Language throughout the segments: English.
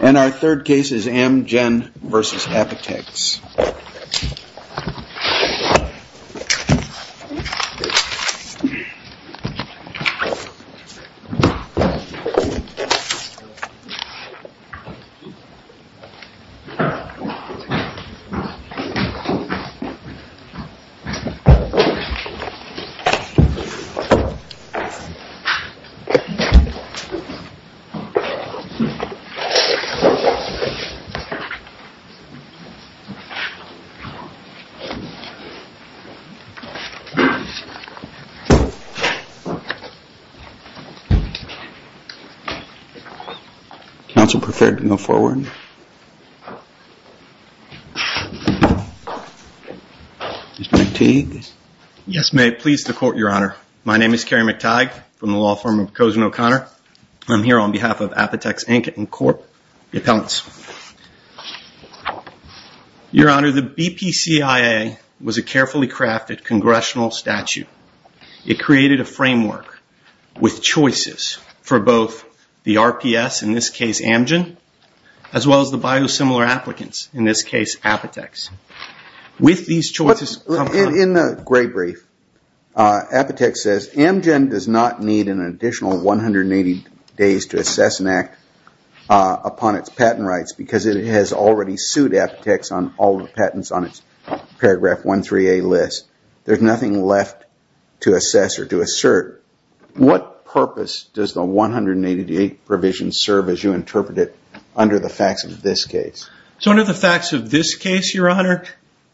And our third case is Amgen v. Apotex. Mr. McTighe, yes, may it please the court, your honor. My name is Kerry McTighe from the law firm of Kozen O'Connor. I'm here on behalf of Apotex Inc. and Corp. Your Honor, the BPCIA was a carefully crafted congressional statute. It created a framework with choices for both the RPS, in this case Amgen, as well as the biosimilar applicants, in this case Apotex. In the gray brief, Apotex says Amgen does not need an additional 180 days to assess an act upon its patent rights because it has already sued Apotex on all the patents on its paragraph 13A list. There's nothing left to assess or to assert. What purpose does the 180-day provision serve as you interpret it under the facts of this case? So under the facts of this case, your honor,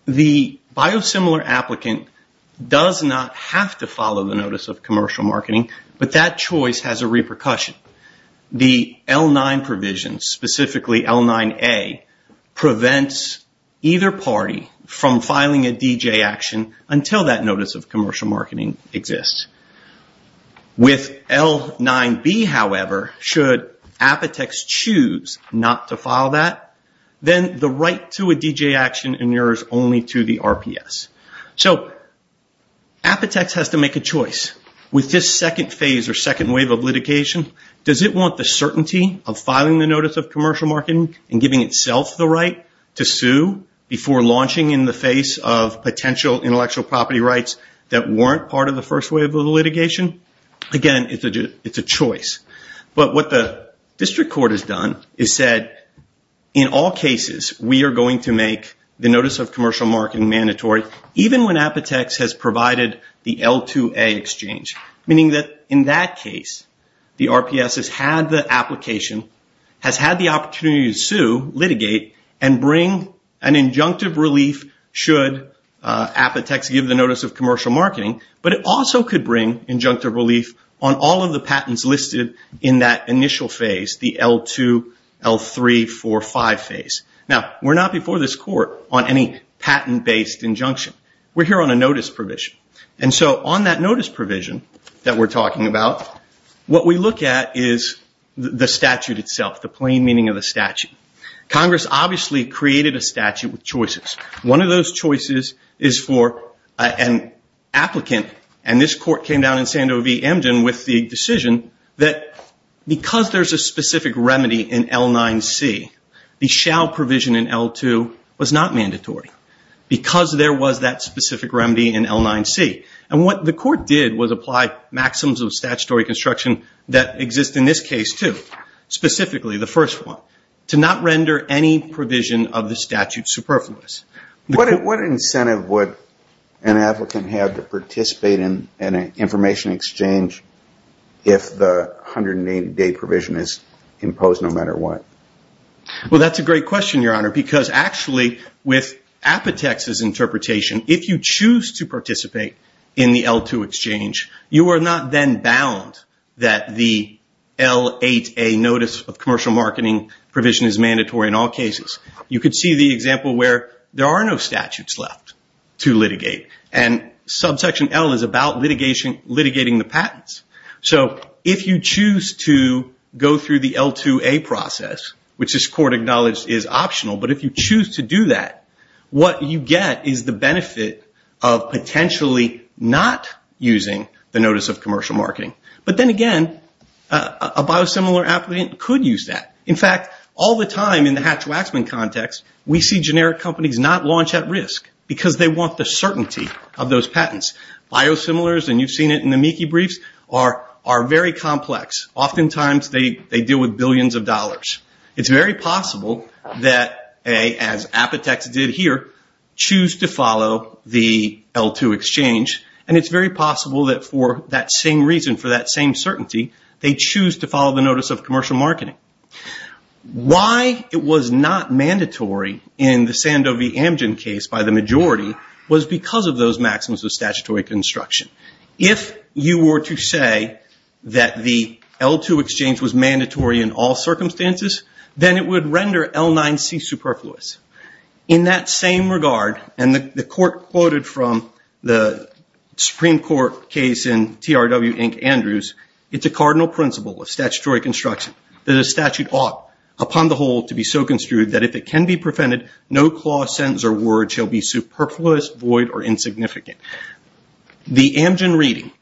the biosimilar applicant does not have to follow the notice of commercial marketing, but that choice has a repercussion. The L-9 provision, specifically L-9A, prevents either party from filing a DJ action until that notice of commercial marketing exists. With L-9B, however, should Apotex choose not to file that, then the right to a DJ action inures only to the RPS. So Apotex has to make a choice. With this second phase or second wave of litigation, does it want the certainty of filing the notice of commercial marketing and giving itself the right to sue before launching in the face of Again, it's a choice. But what the district court has done is said, in all cases, we are going to make the notice of commercial marketing mandatory even when Apotex has provided the L-2A exchange, meaning that in that case, the RPS has had the application, has had the opportunity to sue, litigate, and bring an injunctive relief should Apotex give the notice of commercial marketing, but it also could bring injunctive relief on all of the patents listed in that initial phase, the L-2, L-3, 4, 5 phase. Now, we're not before this court on any patent-based injunction. We're here on a notice provision. And so on that notice provision that we're talking about, what we look at is the statute itself, the plain meaning of the statute. Congress obviously created a statute with choices. One of those choices is for an applicant, and this court came down in Sandovy-Emden with the decision that because there's a specific remedy in L-9C, the shall provision in L-2 was not mandatory because there was that specific remedy in L-9C. And what the court did was apply maxims of statutory construction that exist in this case too, specifically the first one, to not render any provision of the statute superfluous. What incentive would an applicant have to participate in an information exchange if the 180-day provision is imposed no matter what? Well, that's a great question, Your Honor, because actually with Apotex's interpretation, if you choose to participate in the L-2 exchange, you are not then bound that the L-8A notice of commercial marketing provision is mandatory in all cases. You could see the example where there are no statutes left to litigate, and subsection L is about litigating the patents. So if you choose to go through the L-2A process, which this court acknowledged is optional, but if you choose to do that, what you get is the benefit of potentially not using the notice of commercial marketing. But then again, a biosimilar applicant could use that. In fact, all the time in the Hatch-Waxman context, we see generic companies not launch at risk because they want the certainty of those patents. Biosimilars, and you've seen it in the Meeki briefs, are very complex. Oftentimes they deal with billions of dollars. It's very possible that, as Apotex did here, choose to follow the L-2 exchange, and it's very possible that for that same reason, for that same certainty, they choose to follow the notice of commercial marketing. Why it was not mandatory in the Sandovy-Amgen case by the majority was because of those maxims of statutory construction. If you were to say that the L-2 exchange was mandatory in all circumstances, then it would render L-9C superfluous. In that same regard, and the court quoted from the Supreme Court case in TRW, Inc., Andrews, it's a cardinal principle of statutory construction that a statute ought, upon the whole, to be so construed that if it can be prevented, no clause, sentence, or word shall be superfluous, void, or insignificant. The Amgen reading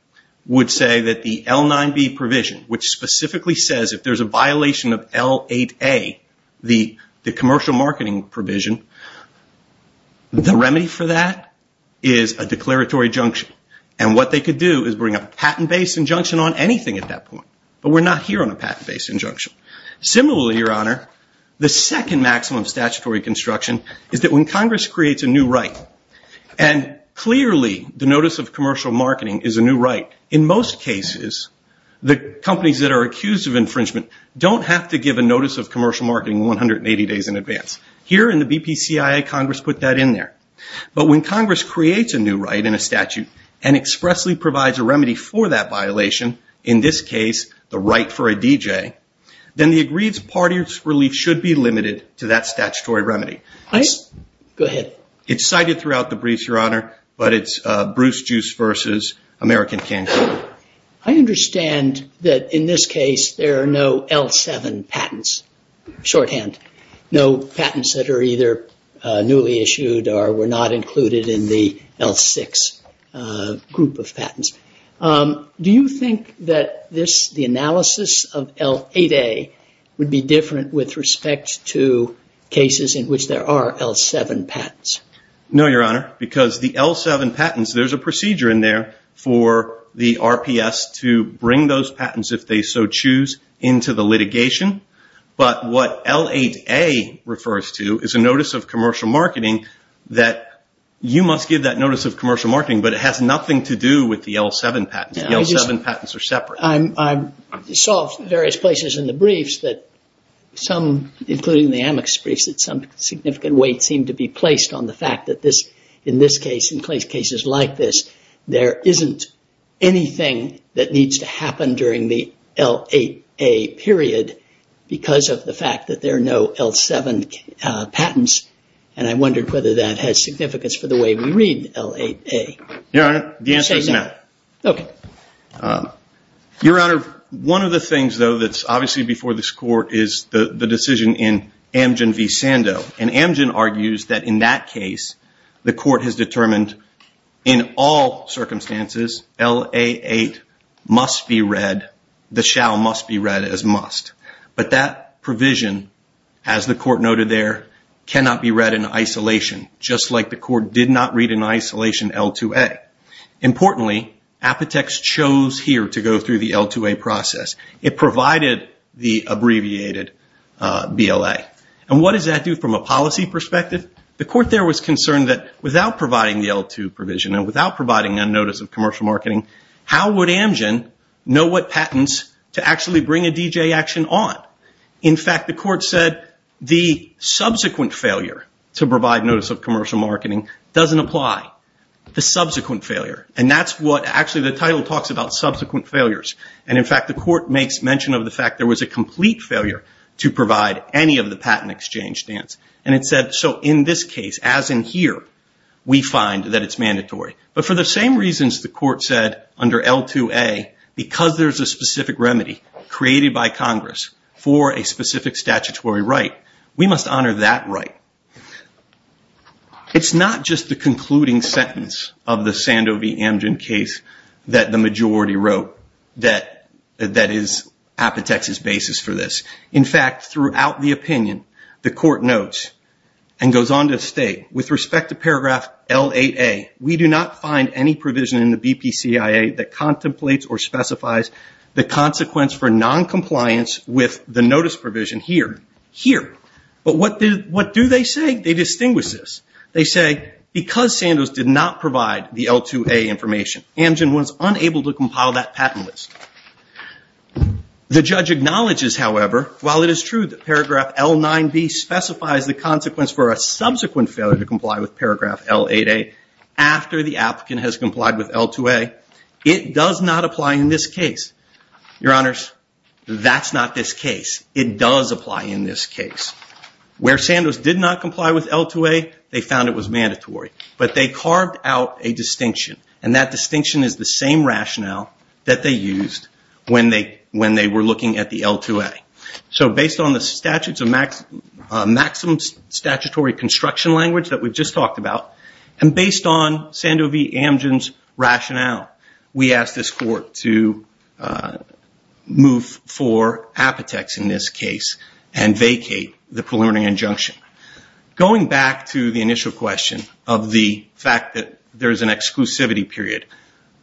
would say that the L-9B provision, which specifically says if there's a violation of L-8A, the commercial marketing provision, the remedy for that is a declaratory junction. And what they could do is bring a patent-based injunction on anything at that point. But we're not here on a patent-based injunction. Similarly, Your Honor, the second maximum of statutory construction is that when Congress creates a new right, and clearly the notice of commercial marketing is a new right. In most cases, the companies that are accused of infringement don't have to give a notice of commercial marketing 180 days in advance. Here in the BPCIA, Congress put that in there. But when Congress creates a new right in a statute and expressly provides a remedy for that violation, in this case, the right for a DJ, then the agreed party's relief should be limited to that statutory remedy. Go ahead. It's cited throughout the briefs, Your Honor, but it's Bruce Juice versus American Cancer. I understand that in this case there are no L-7 patents, shorthand. No patents that are either newly issued or were not included in the L-6 group of patents. Do you think that the analysis of L-8A would be different with respect to cases in which there are L-7 patents? No, Your Honor, because the L-7 patents, there's a procedure in there for the RPS to bring those patents, if they so choose, into the litigation. But what L-8A refers to is a notice of commercial marketing that you must give that notice of commercial marketing, but it has nothing to do with the L-7 patents. The L-7 patents are separate. I saw various places in the briefs that some, including the Amex briefs, that some significant weight seemed to be placed on the fact that this, in this case, in cases like this, there isn't anything that needs to happen during the L-8A period because of the fact that there are no L-7 patents, and I wondered whether that has significance for the way we read L-8A. Your Honor, the answer is no. Okay. Your Honor, one of the things, though, that's obviously before this Court is the decision in Amgen v. Sandow, and Amgen argues that in that case, the Court has determined in all circumstances L-8A must be read, the shall must be read as must. But that provision, as the Court noted there, cannot be read in isolation, just like the Court did not read in isolation L-2A. Importantly, Apotex chose here to go through the L-2A process. It provided the abbreviated BLA. And what does that do from a policy perspective? The Court there was concerned that without providing the L-2 provision and without providing a notice of commercial marketing, how would Amgen know what patents to actually bring a DJ action on? In fact, the Court said the subsequent failure to provide notice of commercial marketing doesn't apply. The subsequent failure. And that's what actually the title talks about, subsequent failures. And, in fact, the Court makes mention of the fact there was a complete failure to provide any of the patent exchange stance. And it said, so in this case, as in here, we find that it's mandatory. But for the same reasons the Court said under L-2A, because there's a specific remedy created by Congress for a specific statutory right, we must honor that right. It's not just the concluding sentence of the Sandovey-Amgen case that the majority wrote that is Apotex's basis for this. In fact, throughout the opinion, the Court notes and goes on to state, with respect to paragraph L-8A, we do not find any provision in the BPCIA that contemplates or specifies the consequence for noncompliance with the notice provision here. But what do they say? They distinguish this. They say, because Sandoz did not provide the L-2A information, Amgen was unable to compile that patent list. The judge acknowledges, however, while it is true that paragraph L-9B specifies the consequence for a subsequent failure to comply with paragraph L-8A after the applicant has complied with L-2A, it does not apply in this case. Your Honors, that's not this case. It does apply in this case. Where Sandoz did not comply with L-2A, they found it was mandatory. But they carved out a distinction, and that distinction is the same rationale that they used when they were looking at the L-2A. So based on the maximum statutory construction language that we've just talked about, and based on Sandovey-Amgen's rationale, we ask this Court to move for apotex in this case and vacate the preliminary injunction. Going back to the initial question of the fact that there is an exclusivity period,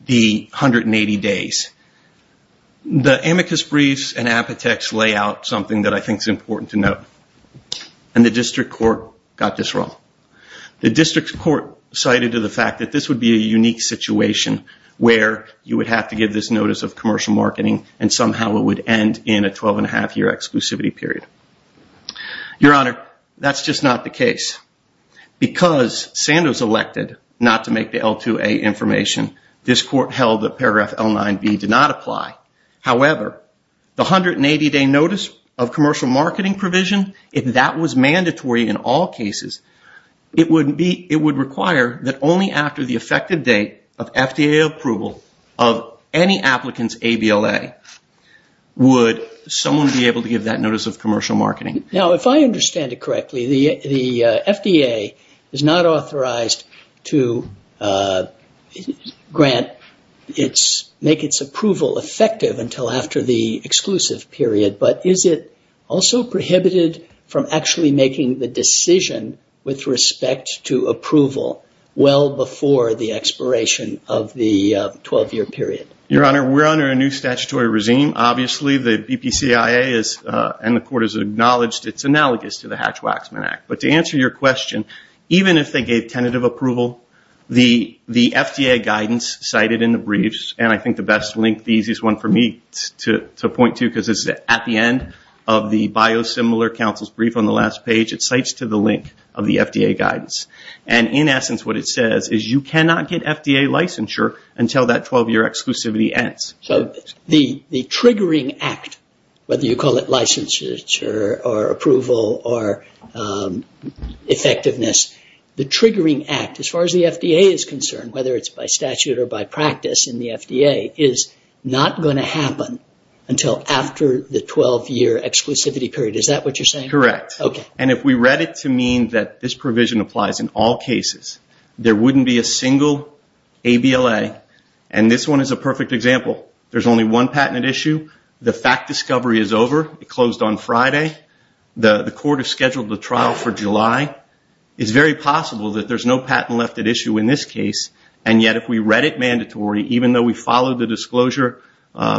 the 180 days, the amicus briefs and apotex lay out something that I think is important to note, and the District Court got this wrong. The District Court cited to the fact that this would be a unique situation where you would have to give this notice of commercial marketing and somehow it would end in a 12.5 year exclusivity period. Your Honor, that's just not the case. Because Sandoz elected not to make the L-2A information, this Court held that paragraph L-9B did not apply. However, the 180 day notice of commercial marketing provision, if that was mandatory in all cases, it would require that only after the effective date of FDA approval of any applicant's ABLA, would someone be able to give that notice of commercial marketing. Now, if I understand it correctly, the FDA is not authorized to grant or make its approval effective until after the exclusive period. But is it also prohibited from actually making the decision with respect to approval well before the expiration of the 12 year period? Your Honor, we're under a new statutory regime. Obviously, the BPCIA and the Court has acknowledged it's analogous to the Hatch-Waxman Act. But to answer your question, even if they gave tentative approval, the FDA guidance cited in the briefs, and I think the best link, the easiest one for me to point to, because it's at the end of the biosimilar counsel's brief on the last page, it cites to the link of the FDA guidance. And in essence, what it says is you cannot get FDA licensure until that 12 year exclusivity ends. So the triggering act, whether you call it licensure or approval or effectiveness, the triggering act, as far as the FDA is concerned, whether it's by statute or by practice in the FDA, is not going to happen until after the 12 year exclusivity period. Is that what you're saying? Correct. And if we read it to mean that this provision applies in all cases, there wouldn't be a single ABLA. And this one is a perfect example. There's only one patent at issue. The fact discovery is over. It closed on Friday. The Court has scheduled the trial for July. It's very possible that there's no patent left at issue in this case. And yet, if we read it mandatory, even though we followed the disclosure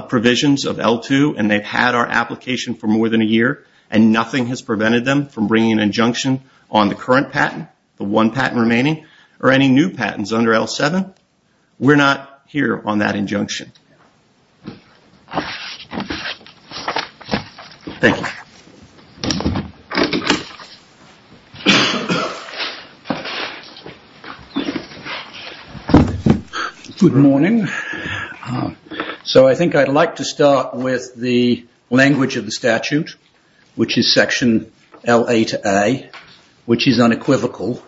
provisions of L2 and they've had our application for more than a year, and nothing has prevented them from bringing an injunction on the current patent, the one patent remaining, or any new patents under L7, we're not here on that injunction. Thank you. Good morning. So I think I'd like to start with the language of the statute, which is section L8A, which is unequivocal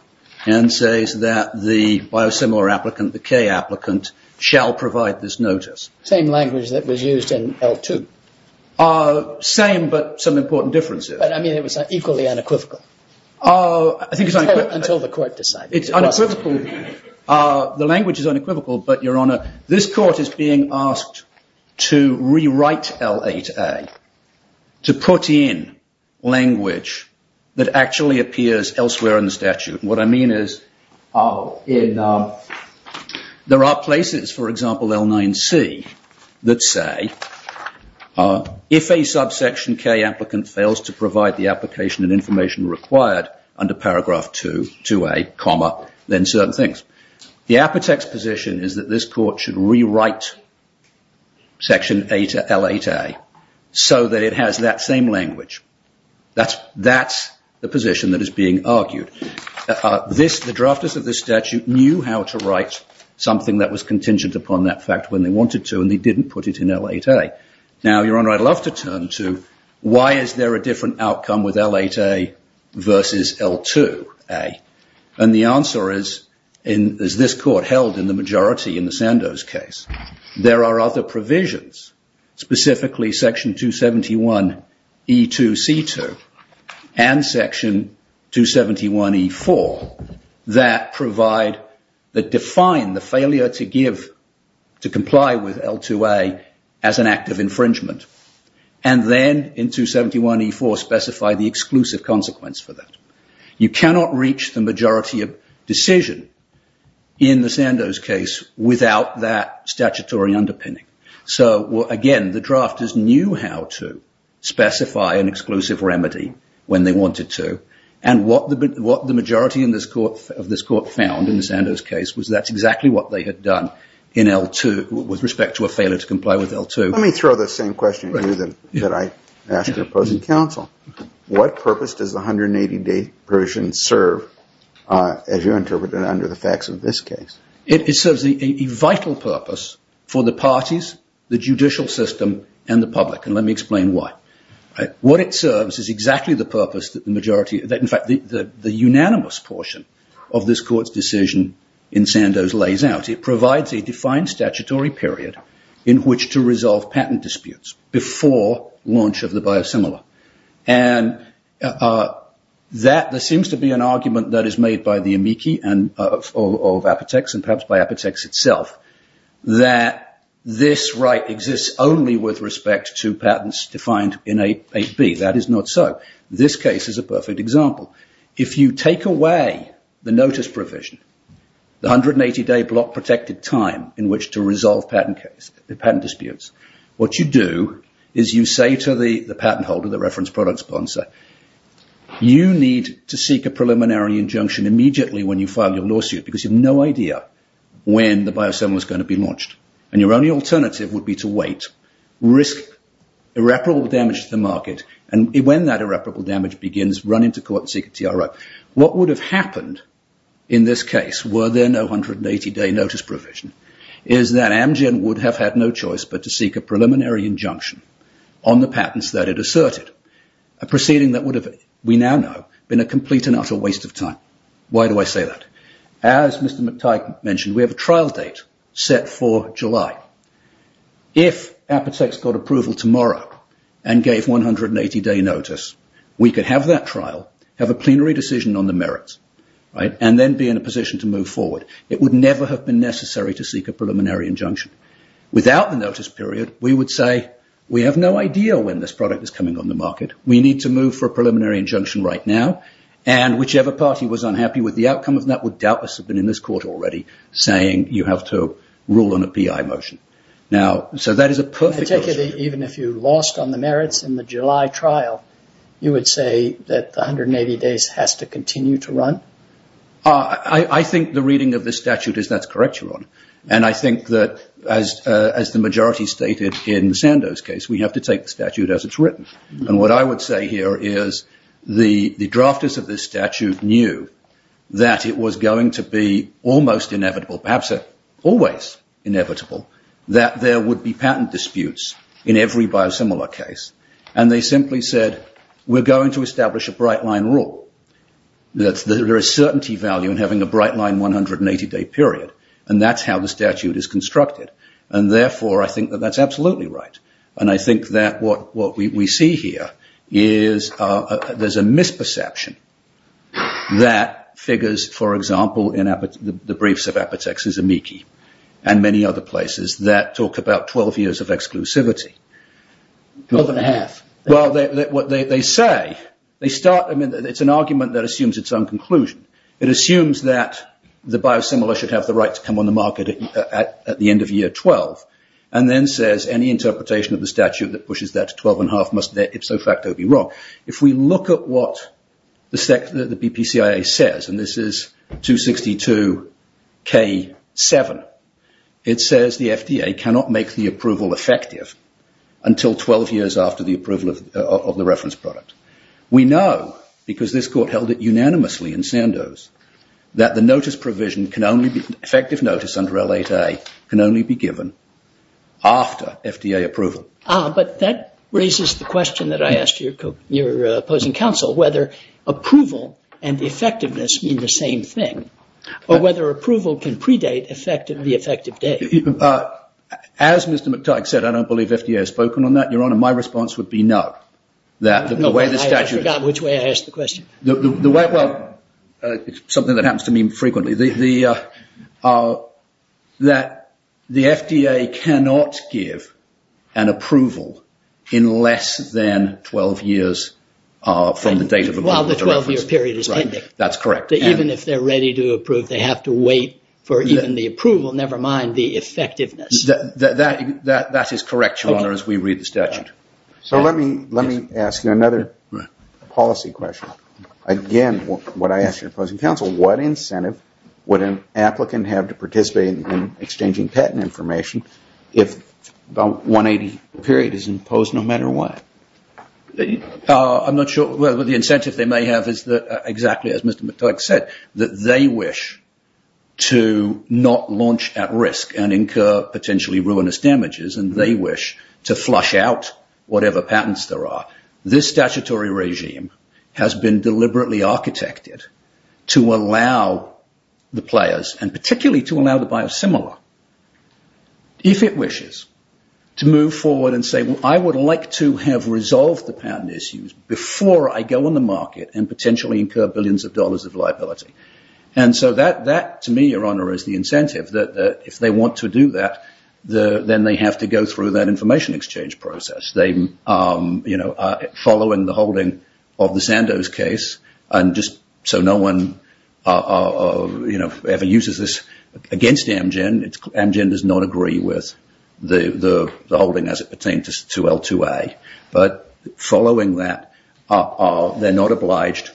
and says that the biosimilar applicant, the K applicant, shall provide this notice. Same language that was used in L2. Same, but some important differences. I mean, it was equally unequivocal. Until the Court decided. It's unequivocal. The language is unequivocal, but, Your Honor, this Court is being asked to rewrite L8A to put in language that actually appears elsewhere in the statute. What I mean is, there are places, for example, L9C, that say, if a subsection K applicant fails to provide the application and information required under paragraph 2A, then certain things. The apothecary's position is that this Court should rewrite section L8A so that it has that same language. That's the position that is being argued. The drafters of the statute knew how to write something that was contingent upon that fact when they wanted to, and they didn't put it in L8A. Now, Your Honor, I'd love to turn to why is there a different outcome with L8A versus L2A, and the answer is, as this Court held in the majority in the Sandoz case, there are other provisions, specifically section 271E2C2 and section 271E4 that provide, that define the failure to give, to comply with L2A as an act of infringement, and then in 271E4 specify the exclusive consequence for that. You cannot reach the majority of decision in the Sandoz case without that statutory underpinning. Again, the drafters knew how to specify an exclusive remedy when they wanted to, and what the majority of this Court found in the Sandoz case was that's exactly what they had done in L2 with respect to a failure to comply with L2. Let me throw the same question at you that I asked your opposing counsel. What purpose does the 180-day provision serve, as you interpreted it under the facts of this case? It serves a vital purpose for the parties, the judicial system, and the public, and let me explain why. What it serves is exactly the purpose that the unanimous portion of this Court's decision in Sandoz lays out. It provides a defined statutory period in which to resolve patent disputes before launch of the biosimilar, and there seems to be an argument that is made by the amici of Apotex, and perhaps by Apotex itself, that this right exists only with respect to patents defined in 8B. That is not so. This case is a perfect example. If you take away the notice provision, the 180-day block protected time in which to resolve patent disputes, what you do is you say to the patent holder, the reference product sponsor, you need to seek a preliminary injunction immediately when you file your lawsuit because you have no idea when the biosimilar is going to be launched, and your only alternative would be to wait, risk irreparable damage to the market, and when that irreparable damage begins, run into court and seek a TRO. What would have happened in this case were there no 180-day notice provision is that Amgen would have had no choice but to seek a preliminary injunction on the patents that it asserted, a proceeding that would have, we now know, been a complete and utter waste of time. Why do I say that? As Mr. McTighe mentioned, we have a trial date set for July. If Apotex got approval tomorrow and gave 180-day notice, we could have that trial, have a plenary decision on the merits, and then be in a position to move forward. It would never have been necessary to seek a preliminary injunction. Without the notice period, we would say, we have no idea when this product is coming on the market. We need to move for a preliminary injunction right now, and whichever party was unhappy with the outcome of that would doubtless have been in this court already saying you have to rule on a PI motion. So that is a perfect question. Particularly, even if you lost on the merits in the July trial, you would say that the 180 days has to continue to run? I think the reading of this statute is that's correct, Ron. And I think that, as the majority stated in Sandow's case, we have to take the statute as it's written. And what I would say here is the drafters of this statute knew that it was going to be almost inevitable, perhaps always inevitable, that there would be patent disputes in every biosimilar case. And they simply said, we're going to establish a bright-line rule. There is certainty value in having a bright-line 180-day period, and that's how the statute is constructed. And therefore, I think that that's absolutely right. And I think that what we see here is there's a misperception that figures, for example, in the briefs of Apotex's amici and many other places that talk about 12 years of exclusivity. Twelve and a half. Well, what they say, they start, I mean, it's an argument that assumes its own conclusion. It assumes that the biosimilar should have the right to come on the market at the end of year 12, and then says any interpretation of the statute that pushes that to 12 and a half must there ipso facto be wrong. If we look at what the BPCIA says, and this is 262K7, it says the FDA cannot make the approval effective until 12 years after the approval of the reference product. We know, because this court held it unanimously in Sandoz, that the notice provision can only be, effective notice under L8A can only be given after FDA approval. But that raises the question that I asked your opposing counsel, whether approval and effectiveness mean the same thing, or whether approval can predate the effective date. As Mr. McTyke said, I don't believe FDA has spoken on that. Your Honor, my response would be no. I forgot which way I asked the question. Well, it's something that happens to me frequently. That the FDA cannot give an approval in less than 12 years from the date of approval. While the 12-year period is pending. That's correct. Even if they're ready to approve, they have to wait for even the approval, never mind the effectiveness. That is correct, Your Honor, as we read the statute. Let me ask you another policy question. Again, what I ask your opposing counsel, what incentive would an applicant have to participate in exchanging patent information if the 180-year period is imposed no matter what? I'm not sure what the incentive they may have is that, exactly as Mr. McTyke said, that they wish to not launch at risk and incur potentially ruinous damages, and they wish to flush out whatever patents there are. This statutory regime has been deliberately architected to allow the players, and particularly to allow the biosimilar, if it wishes, to move forward and say, I would like to have resolved the patent issues before I go on the market and potentially incur billions of dollars of liability. That, to me, Your Honor, is the incentive. If they want to do that, then they have to go through that information exchange process. Following the holding of the Sandoz case, so no one ever uses this against Amgen, Amgen does not agree with the holding as it pertains to L2A, but following that, they're not obliged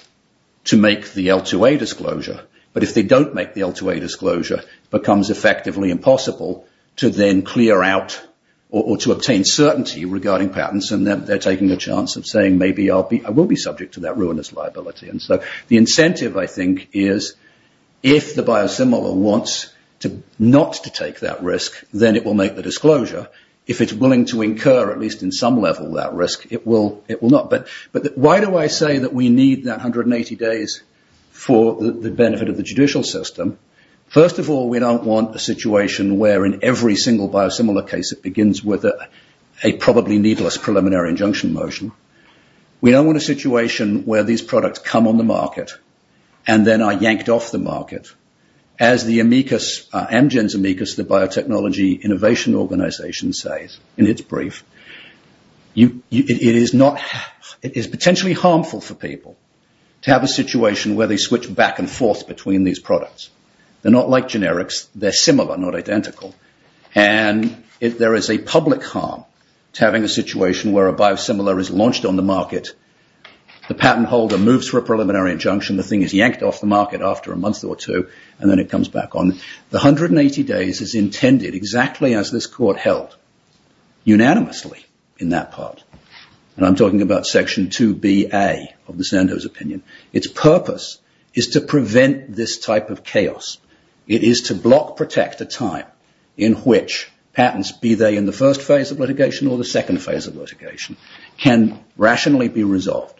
to make the L2A disclosure, but if they don't make the L2A disclosure, it becomes effectively impossible to then clear out or to obtain certainty regarding patents, and then they're taking a chance of saying, The incentive, I think, is if the biosimilar wants not to take that risk, then it will make the disclosure. If it's willing to incur, at least in some level, that risk, it will not. But why do I say that we need that 180 days for the benefit of the judicial system? First of all, we don't want a situation where in every single biosimilar case it begins with a probably needless preliminary injunction motion. We don't want a situation where these products come on the market and then are yanked off the market. As the amicus, Amgen's amicus, the biotechnology innovation organization says in its brief, it is potentially harmful for people to have a situation where they switch back and forth between these products. They're not like generics. They're similar, not identical. And if there is a public harm to having a situation where a biosimilar is launched on the market, the patent holder moves for a preliminary injunction, the thing is yanked off the market after a month or two, and then it comes back on, the 180 days is intended exactly as this court held, unanimously in that part. And I'm talking about section 2bA of the Sandoz opinion. Its purpose is to prevent this type of chaos. It is to block protect a time in which patents, be they in the first phase of litigation or the second phase of litigation, can rationally be resolved.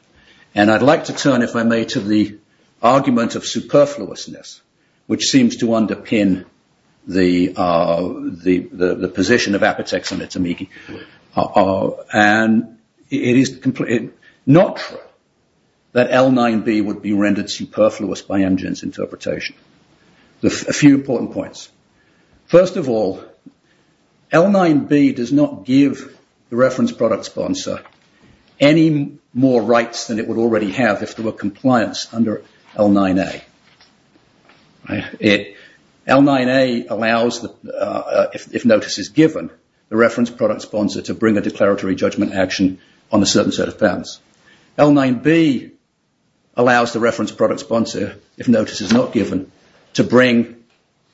And I'd like to turn, if I may, to the argument of superfluousness, which seems to underpin the position of Apotex and its amicus. And it is not true that L9B would be rendered superfluous by Amgen's interpretation. A few important points. First of all, L9B does not give the reference product sponsor any more rights than it would already have if there were compliance under L9A. L9A allows, if notice is given, the reference product sponsor to bring a declaratory judgment action on a certain set of patents. L9B allows the reference product sponsor, if notice is not given, to bring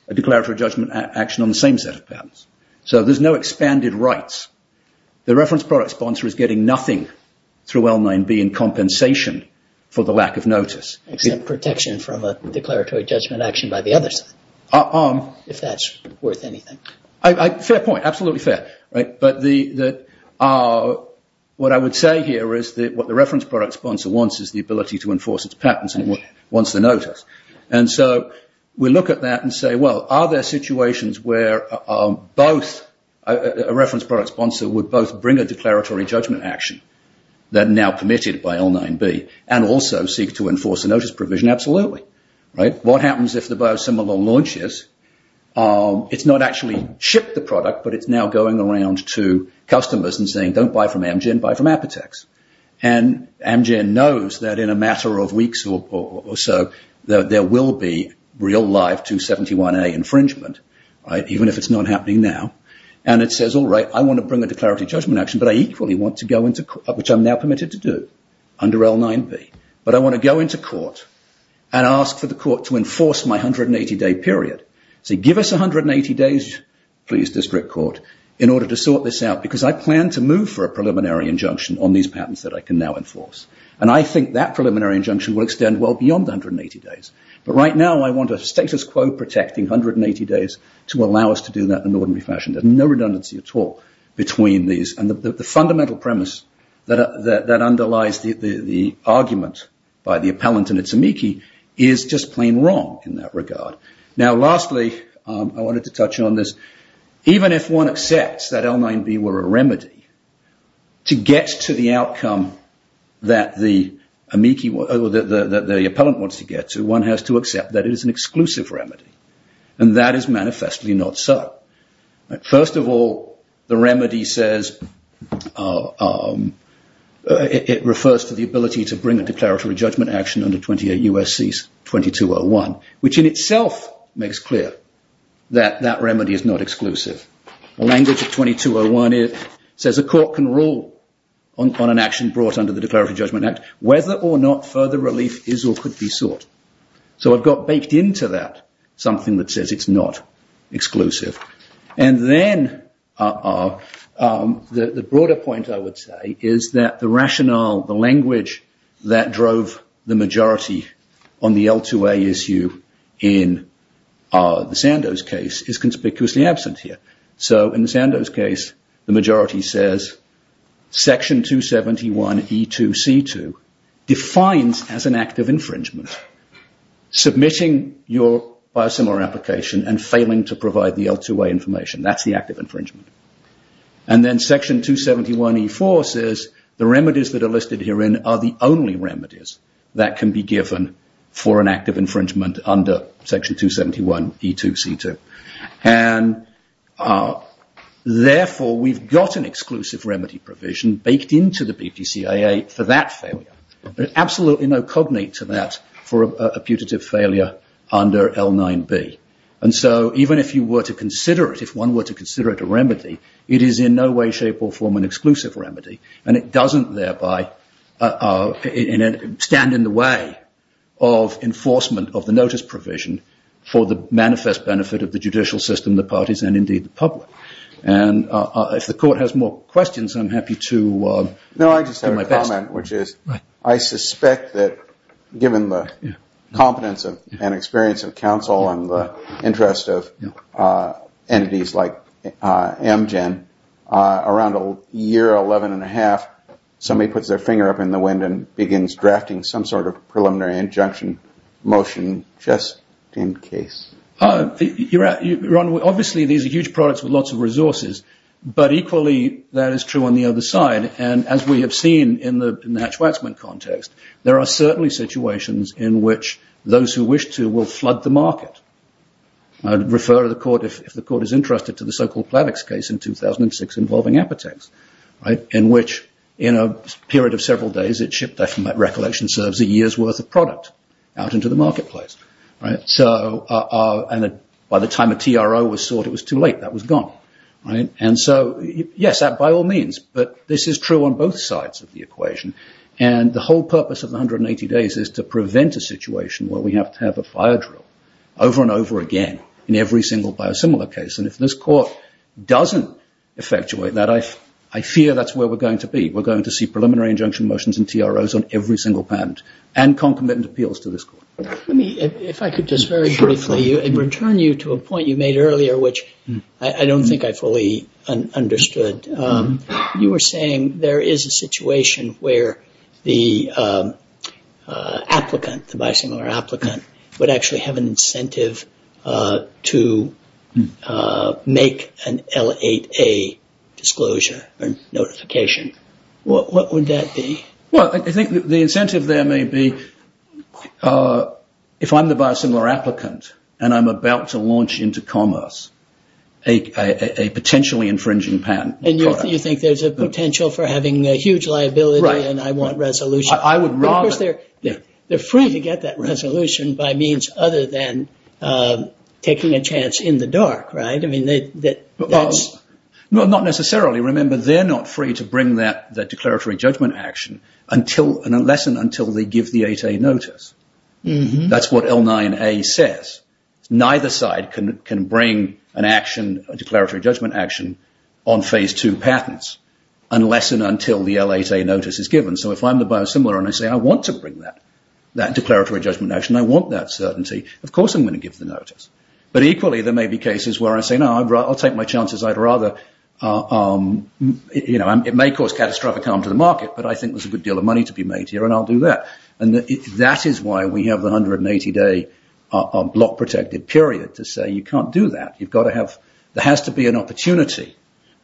a declaratory judgment action on the same set of patents. So there's no expanded rights. The reference product sponsor is getting nothing through L9B in compensation for the lack of notice. Except protection from a declaratory judgment action by the other side, if that's worth anything. Fair point, absolutely fair. But what I would say here is that what the reference product sponsor wants is the ability to enforce its patents and wants the notice. And so we look at that and say, well, are there situations where both, a reference product sponsor would both bring a declaratory judgment action that now committed by L9B and also seek to enforce a notice provision? Absolutely. What happens if the biosimilar launches? It's not actually shipped the product, but it's now going around to customers and saying, don't buy from Amgen, buy from Apotex. And Amgen knows that in a matter of weeks or so there will be real live 271A infringement, even if it's not happening now. And it says, all right, I want to bring a declaratory judgment action, but I equally want to go into court, which I'm now permitted to do under L9B. But I want to go into court and ask for the court to enforce my 180-day period. Say, give us 180 days, please, district court, in order to sort this out, because I plan to move for a preliminary injunction on these patents that I can now enforce. And I think that preliminary injunction will extend well beyond 180 days. But right now I want a status quo protecting 180 days to allow us to do that in an ordinary fashion. There's no redundancy at all between these. And the fundamental premise that underlies the argument by the appellant and its amici is just plain wrong in that regard. Now, lastly, I wanted to touch on this. Even if one accepts that L9B were a remedy to get to the outcome that the appellant wants to get to, one has to accept that it is an exclusive remedy. And that is manifestly not so. First of all, the remedy says... It refers to the ability to bring a declaratory judgment action under 28 U.S.C. 2201, which in itself makes clear that that remedy is not exclusive. The language of 2201 says a court can rule on an action brought under the Declaratory Judgment Act whether or not further relief is or could be sought. So I've got baked into that something that says it's not exclusive. And then the broader point, I would say, is that the rationale, the language, that drove the majority on the L2A issue in the Sandoz case is conspicuously absent here. So in the Sandoz case, the majority says Section 271E2C2 defines as an act of infringement submitting your biosimilar application and failing to provide the L2A information. That's the act of infringement. And then Section 271E4 says the remedies that are listed herein are the only remedies that can be given for an act of infringement under Section 271E2C2. And therefore, we've got an exclusive remedy provision baked into the BPCIA for that failure. There's absolutely no cognate to that for a putative failure under L9B. And so even if you were to consider it, if one were to consider it a remedy, it is in no way, shape, or form an exclusive remedy, and it doesn't thereby stand in the way of enforcement of the notice provision for the manifest benefit of the judicial system, the parties, and indeed the public. And if the court has more questions, I'm happy to do my best. No, I just have a comment, which is I suspect that given the competence and experience of counsel and the interest of entities like Amgen, around a year, 11 and a half, somebody puts their finger up in the wind and begins drafting some sort of preliminary injunction motion just in case. Obviously, these are huge products with lots of resources. But equally, that is true on the other side. And as we have seen in the Natch-Waxman context, there are certainly situations in which those who wish to will flood the market. I'd refer to the court, if the court is interested, to the so-called Plavix case in 2006 involving Apotex, in which, in a period of several days, it shipped a recollection serves a year's worth of product out into the marketplace. And by the time a TRO was sought, it was too late. That was gone. And so, yes, that by all means, but this is true on both sides of the equation. And the whole purpose of the 180 days is to prevent a situation where we have to have a fire drill over and over again in every single biosimilar case. And if this court doesn't effectuate that, I fear that's where we're going to be. We're going to see preliminary injunction motions and TROs on every single patent and concomitant appeals to this court. Let me, if I could just very briefly return you to a point you made earlier, which I don't think I fully understood. You were saying there is a situation where the applicant, the biosimilar applicant, would actually have an incentive to make an L8A disclosure or notification. What would that be? Well, I think the incentive there may be if I'm the biosimilar applicant and I'm about to launch into commerce a potentially infringing patent. And you think there's a potential for having a huge liability and I want resolution. I would rather... Because they're free to get that resolution by means other than taking a chance in the dark, right? I mean, that's... Well, not necessarily. Remember, they're not free to bring that declaratory judgment action unless and until they give the 8A notice. That's what L9A says. Neither side can bring an action, a declaratory judgment action, on Phase 2 patents unless and until the L8A notice is given. So if I'm the biosimilar and I say, I want to bring that declaratory judgment action, I want that certainty, of course I'm going to give the notice. But equally, there may be cases where I say, no, I'll take my chances. I'd rather... You know, it may cause catastrophic harm to the market, but I think there's a good deal of money to be made here and I'll do that. And that is why we have the 180-day block-protected period to say you can't do that. You've got to have... There has to be an opportunity.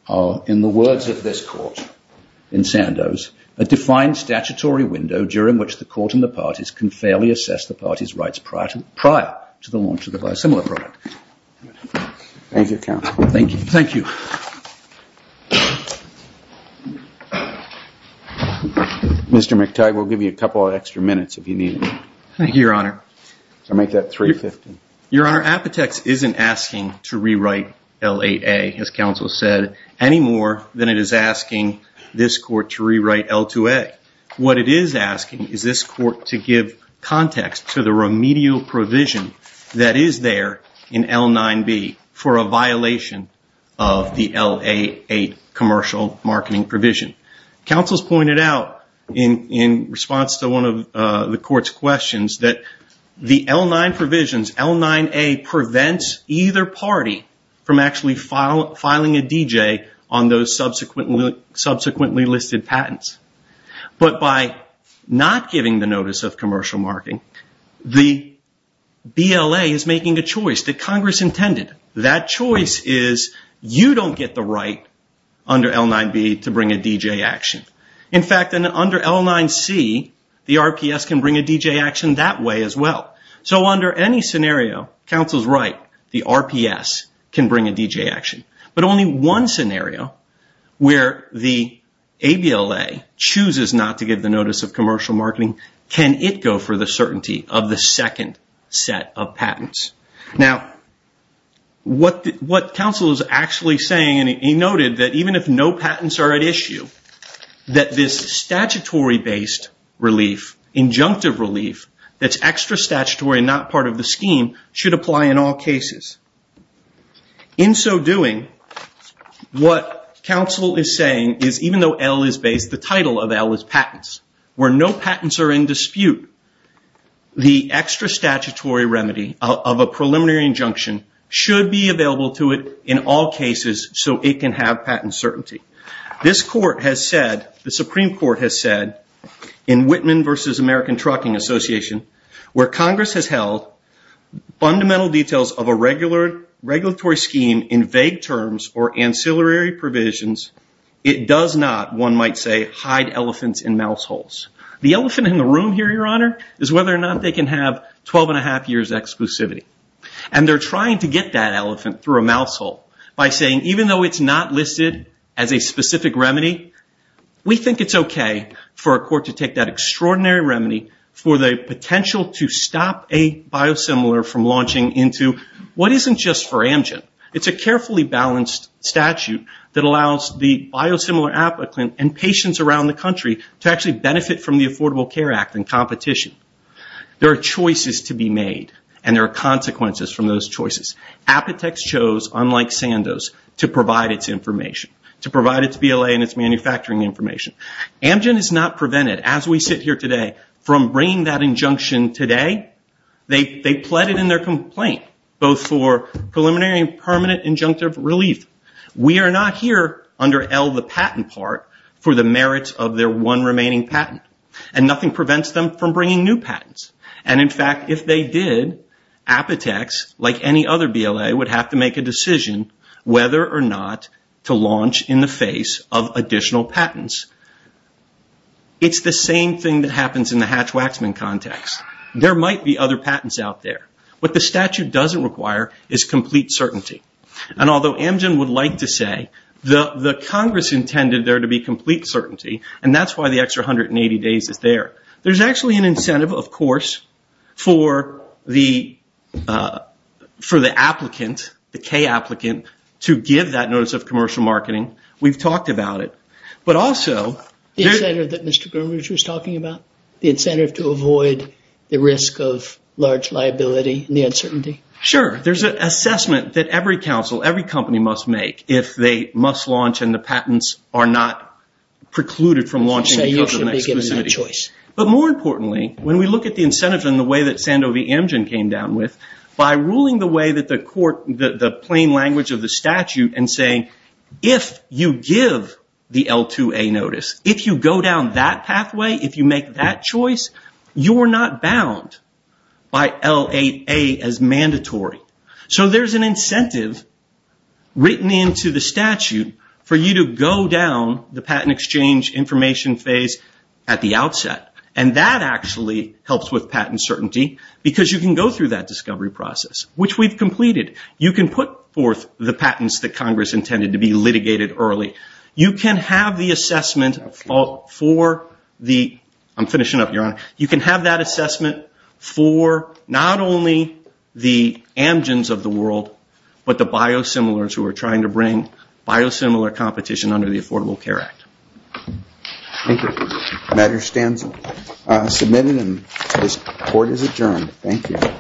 In the words of this court, in Sandoz, a defined statutory window during which the court and the parties can fairly assess the parties' rights prior to the launch of the biosimilar product. Thank you, counsel. Thank you. Mr. McTighe, we'll give you a couple of extra minutes if you need it. Thank you, Your Honor. I'll make that $350,000. Your Honor, Apotex isn't asking to rewrite L8A, as counsel said, any more than it is asking this court to rewrite L2A. What it is asking is this court to give context to the remedial provision that is there in L9B for a violation of the L8A commercial marketing provision. Counsel has pointed out, in response to one of the court's questions, that the L9 provisions, L9A, prevents either party from actually filing a DJ on those subsequently listed patents. But by not giving the notice of commercial marketing, the BLA is making a choice that Congress intended. That choice is you don't get the right under L9B to bring a DJ action. In fact, under L9C, the RPS can bring a DJ action that way as well. So under any scenario, counsel's right, the RPS can bring a DJ action. But only one scenario where the ABLA chooses not to give the notice of commercial marketing, can it go for the certainty of the second set of patents. Now, what counsel is actually saying, and he noted that even if no patents are at issue, that this statutory-based relief, injunctive relief that's extra statutory and not part of the scheme, should apply in all cases. In so doing, what counsel is saying is even though L is based, the title of L is patents. Where no patents are in dispute, the extra statutory remedy of a preliminary injunction should be available to it in all cases so it can have patent certainty. This court has said, the Supreme Court has said, in Whitman versus American Trucking Association, where Congress has held fundamental details of a regulatory scheme in vague terms or ancillary provisions, it does not, one might say, hide elephants in mouse holes. The elephant in the room here, Your Honor, is whether or not they can have 12 1⁄2 years exclusivity. And they're trying to get that elephant through a mouse hole by saying even though it's not listed as a specific remedy, we think it's okay for a court to take that extraordinary remedy for the potential to stop a biosimilar from launching into what isn't just for Amgen. It's a carefully balanced statute that allows the biosimilar applicant and patients around the country to actually benefit from the Affordable Care Act and competition. There are choices to be made and there are consequences from those choices. Apotex chose, unlike Sandoz, to provide its information, to provide its BLA and its manufacturing information. Amgen is not prevented, as we sit here today, from bringing that injunction today. They pled it in their complaint, both for preliminary and permanent injunctive relief. We are not here under L, the patent part, for the merits of their one remaining patent. And nothing prevents them from bringing new patents. And in fact, if they did, Apotex, like any other BLA, would have to make a decision whether or not to launch in the face of additional patents. It's the same thing that happens in the Hatch-Waxman context. There might be other patents out there. What the statute doesn't require is complete certainty. And although Amgen would like to say the Congress intended there to be complete certainty, and that's why the extra 180 days is there, there's actually an incentive, of course, for the applicant, the K applicant, to give that notice of commercial marketing. We've talked about it. But also... The incentive that Mr. Groomridge was talking about? The incentive to avoid the risk of large liability and the uncertainty? Sure. There's an assessment that every counsel, every company must make if they must launch and the patents are not precluded from launching because of an exclusivity. But more importantly, when we look at the incentives and the way that Sandovi-Amgen came down with, by ruling the way that the plain language of the statute and saying, if you give the L2A notice, if you go down that pathway, if you make that choice, you're not bound by L8A as mandatory. So there's an incentive written into the statute for you to go down the patent exchange information phase at the outset. And that actually helps with patent certainty because you can go through that discovery process, which we've completed. You can put forth the patents that Congress intended to be litigated early. You can have the assessment for the... I'm finishing up, Your Honor. You can have that assessment for not only the Amgens of the world, but the biosimilars who are trying to bring biosimilar competition under the Affordable Care Act. Thank you. The matter stands submitted and this court is adjourned. Thank you.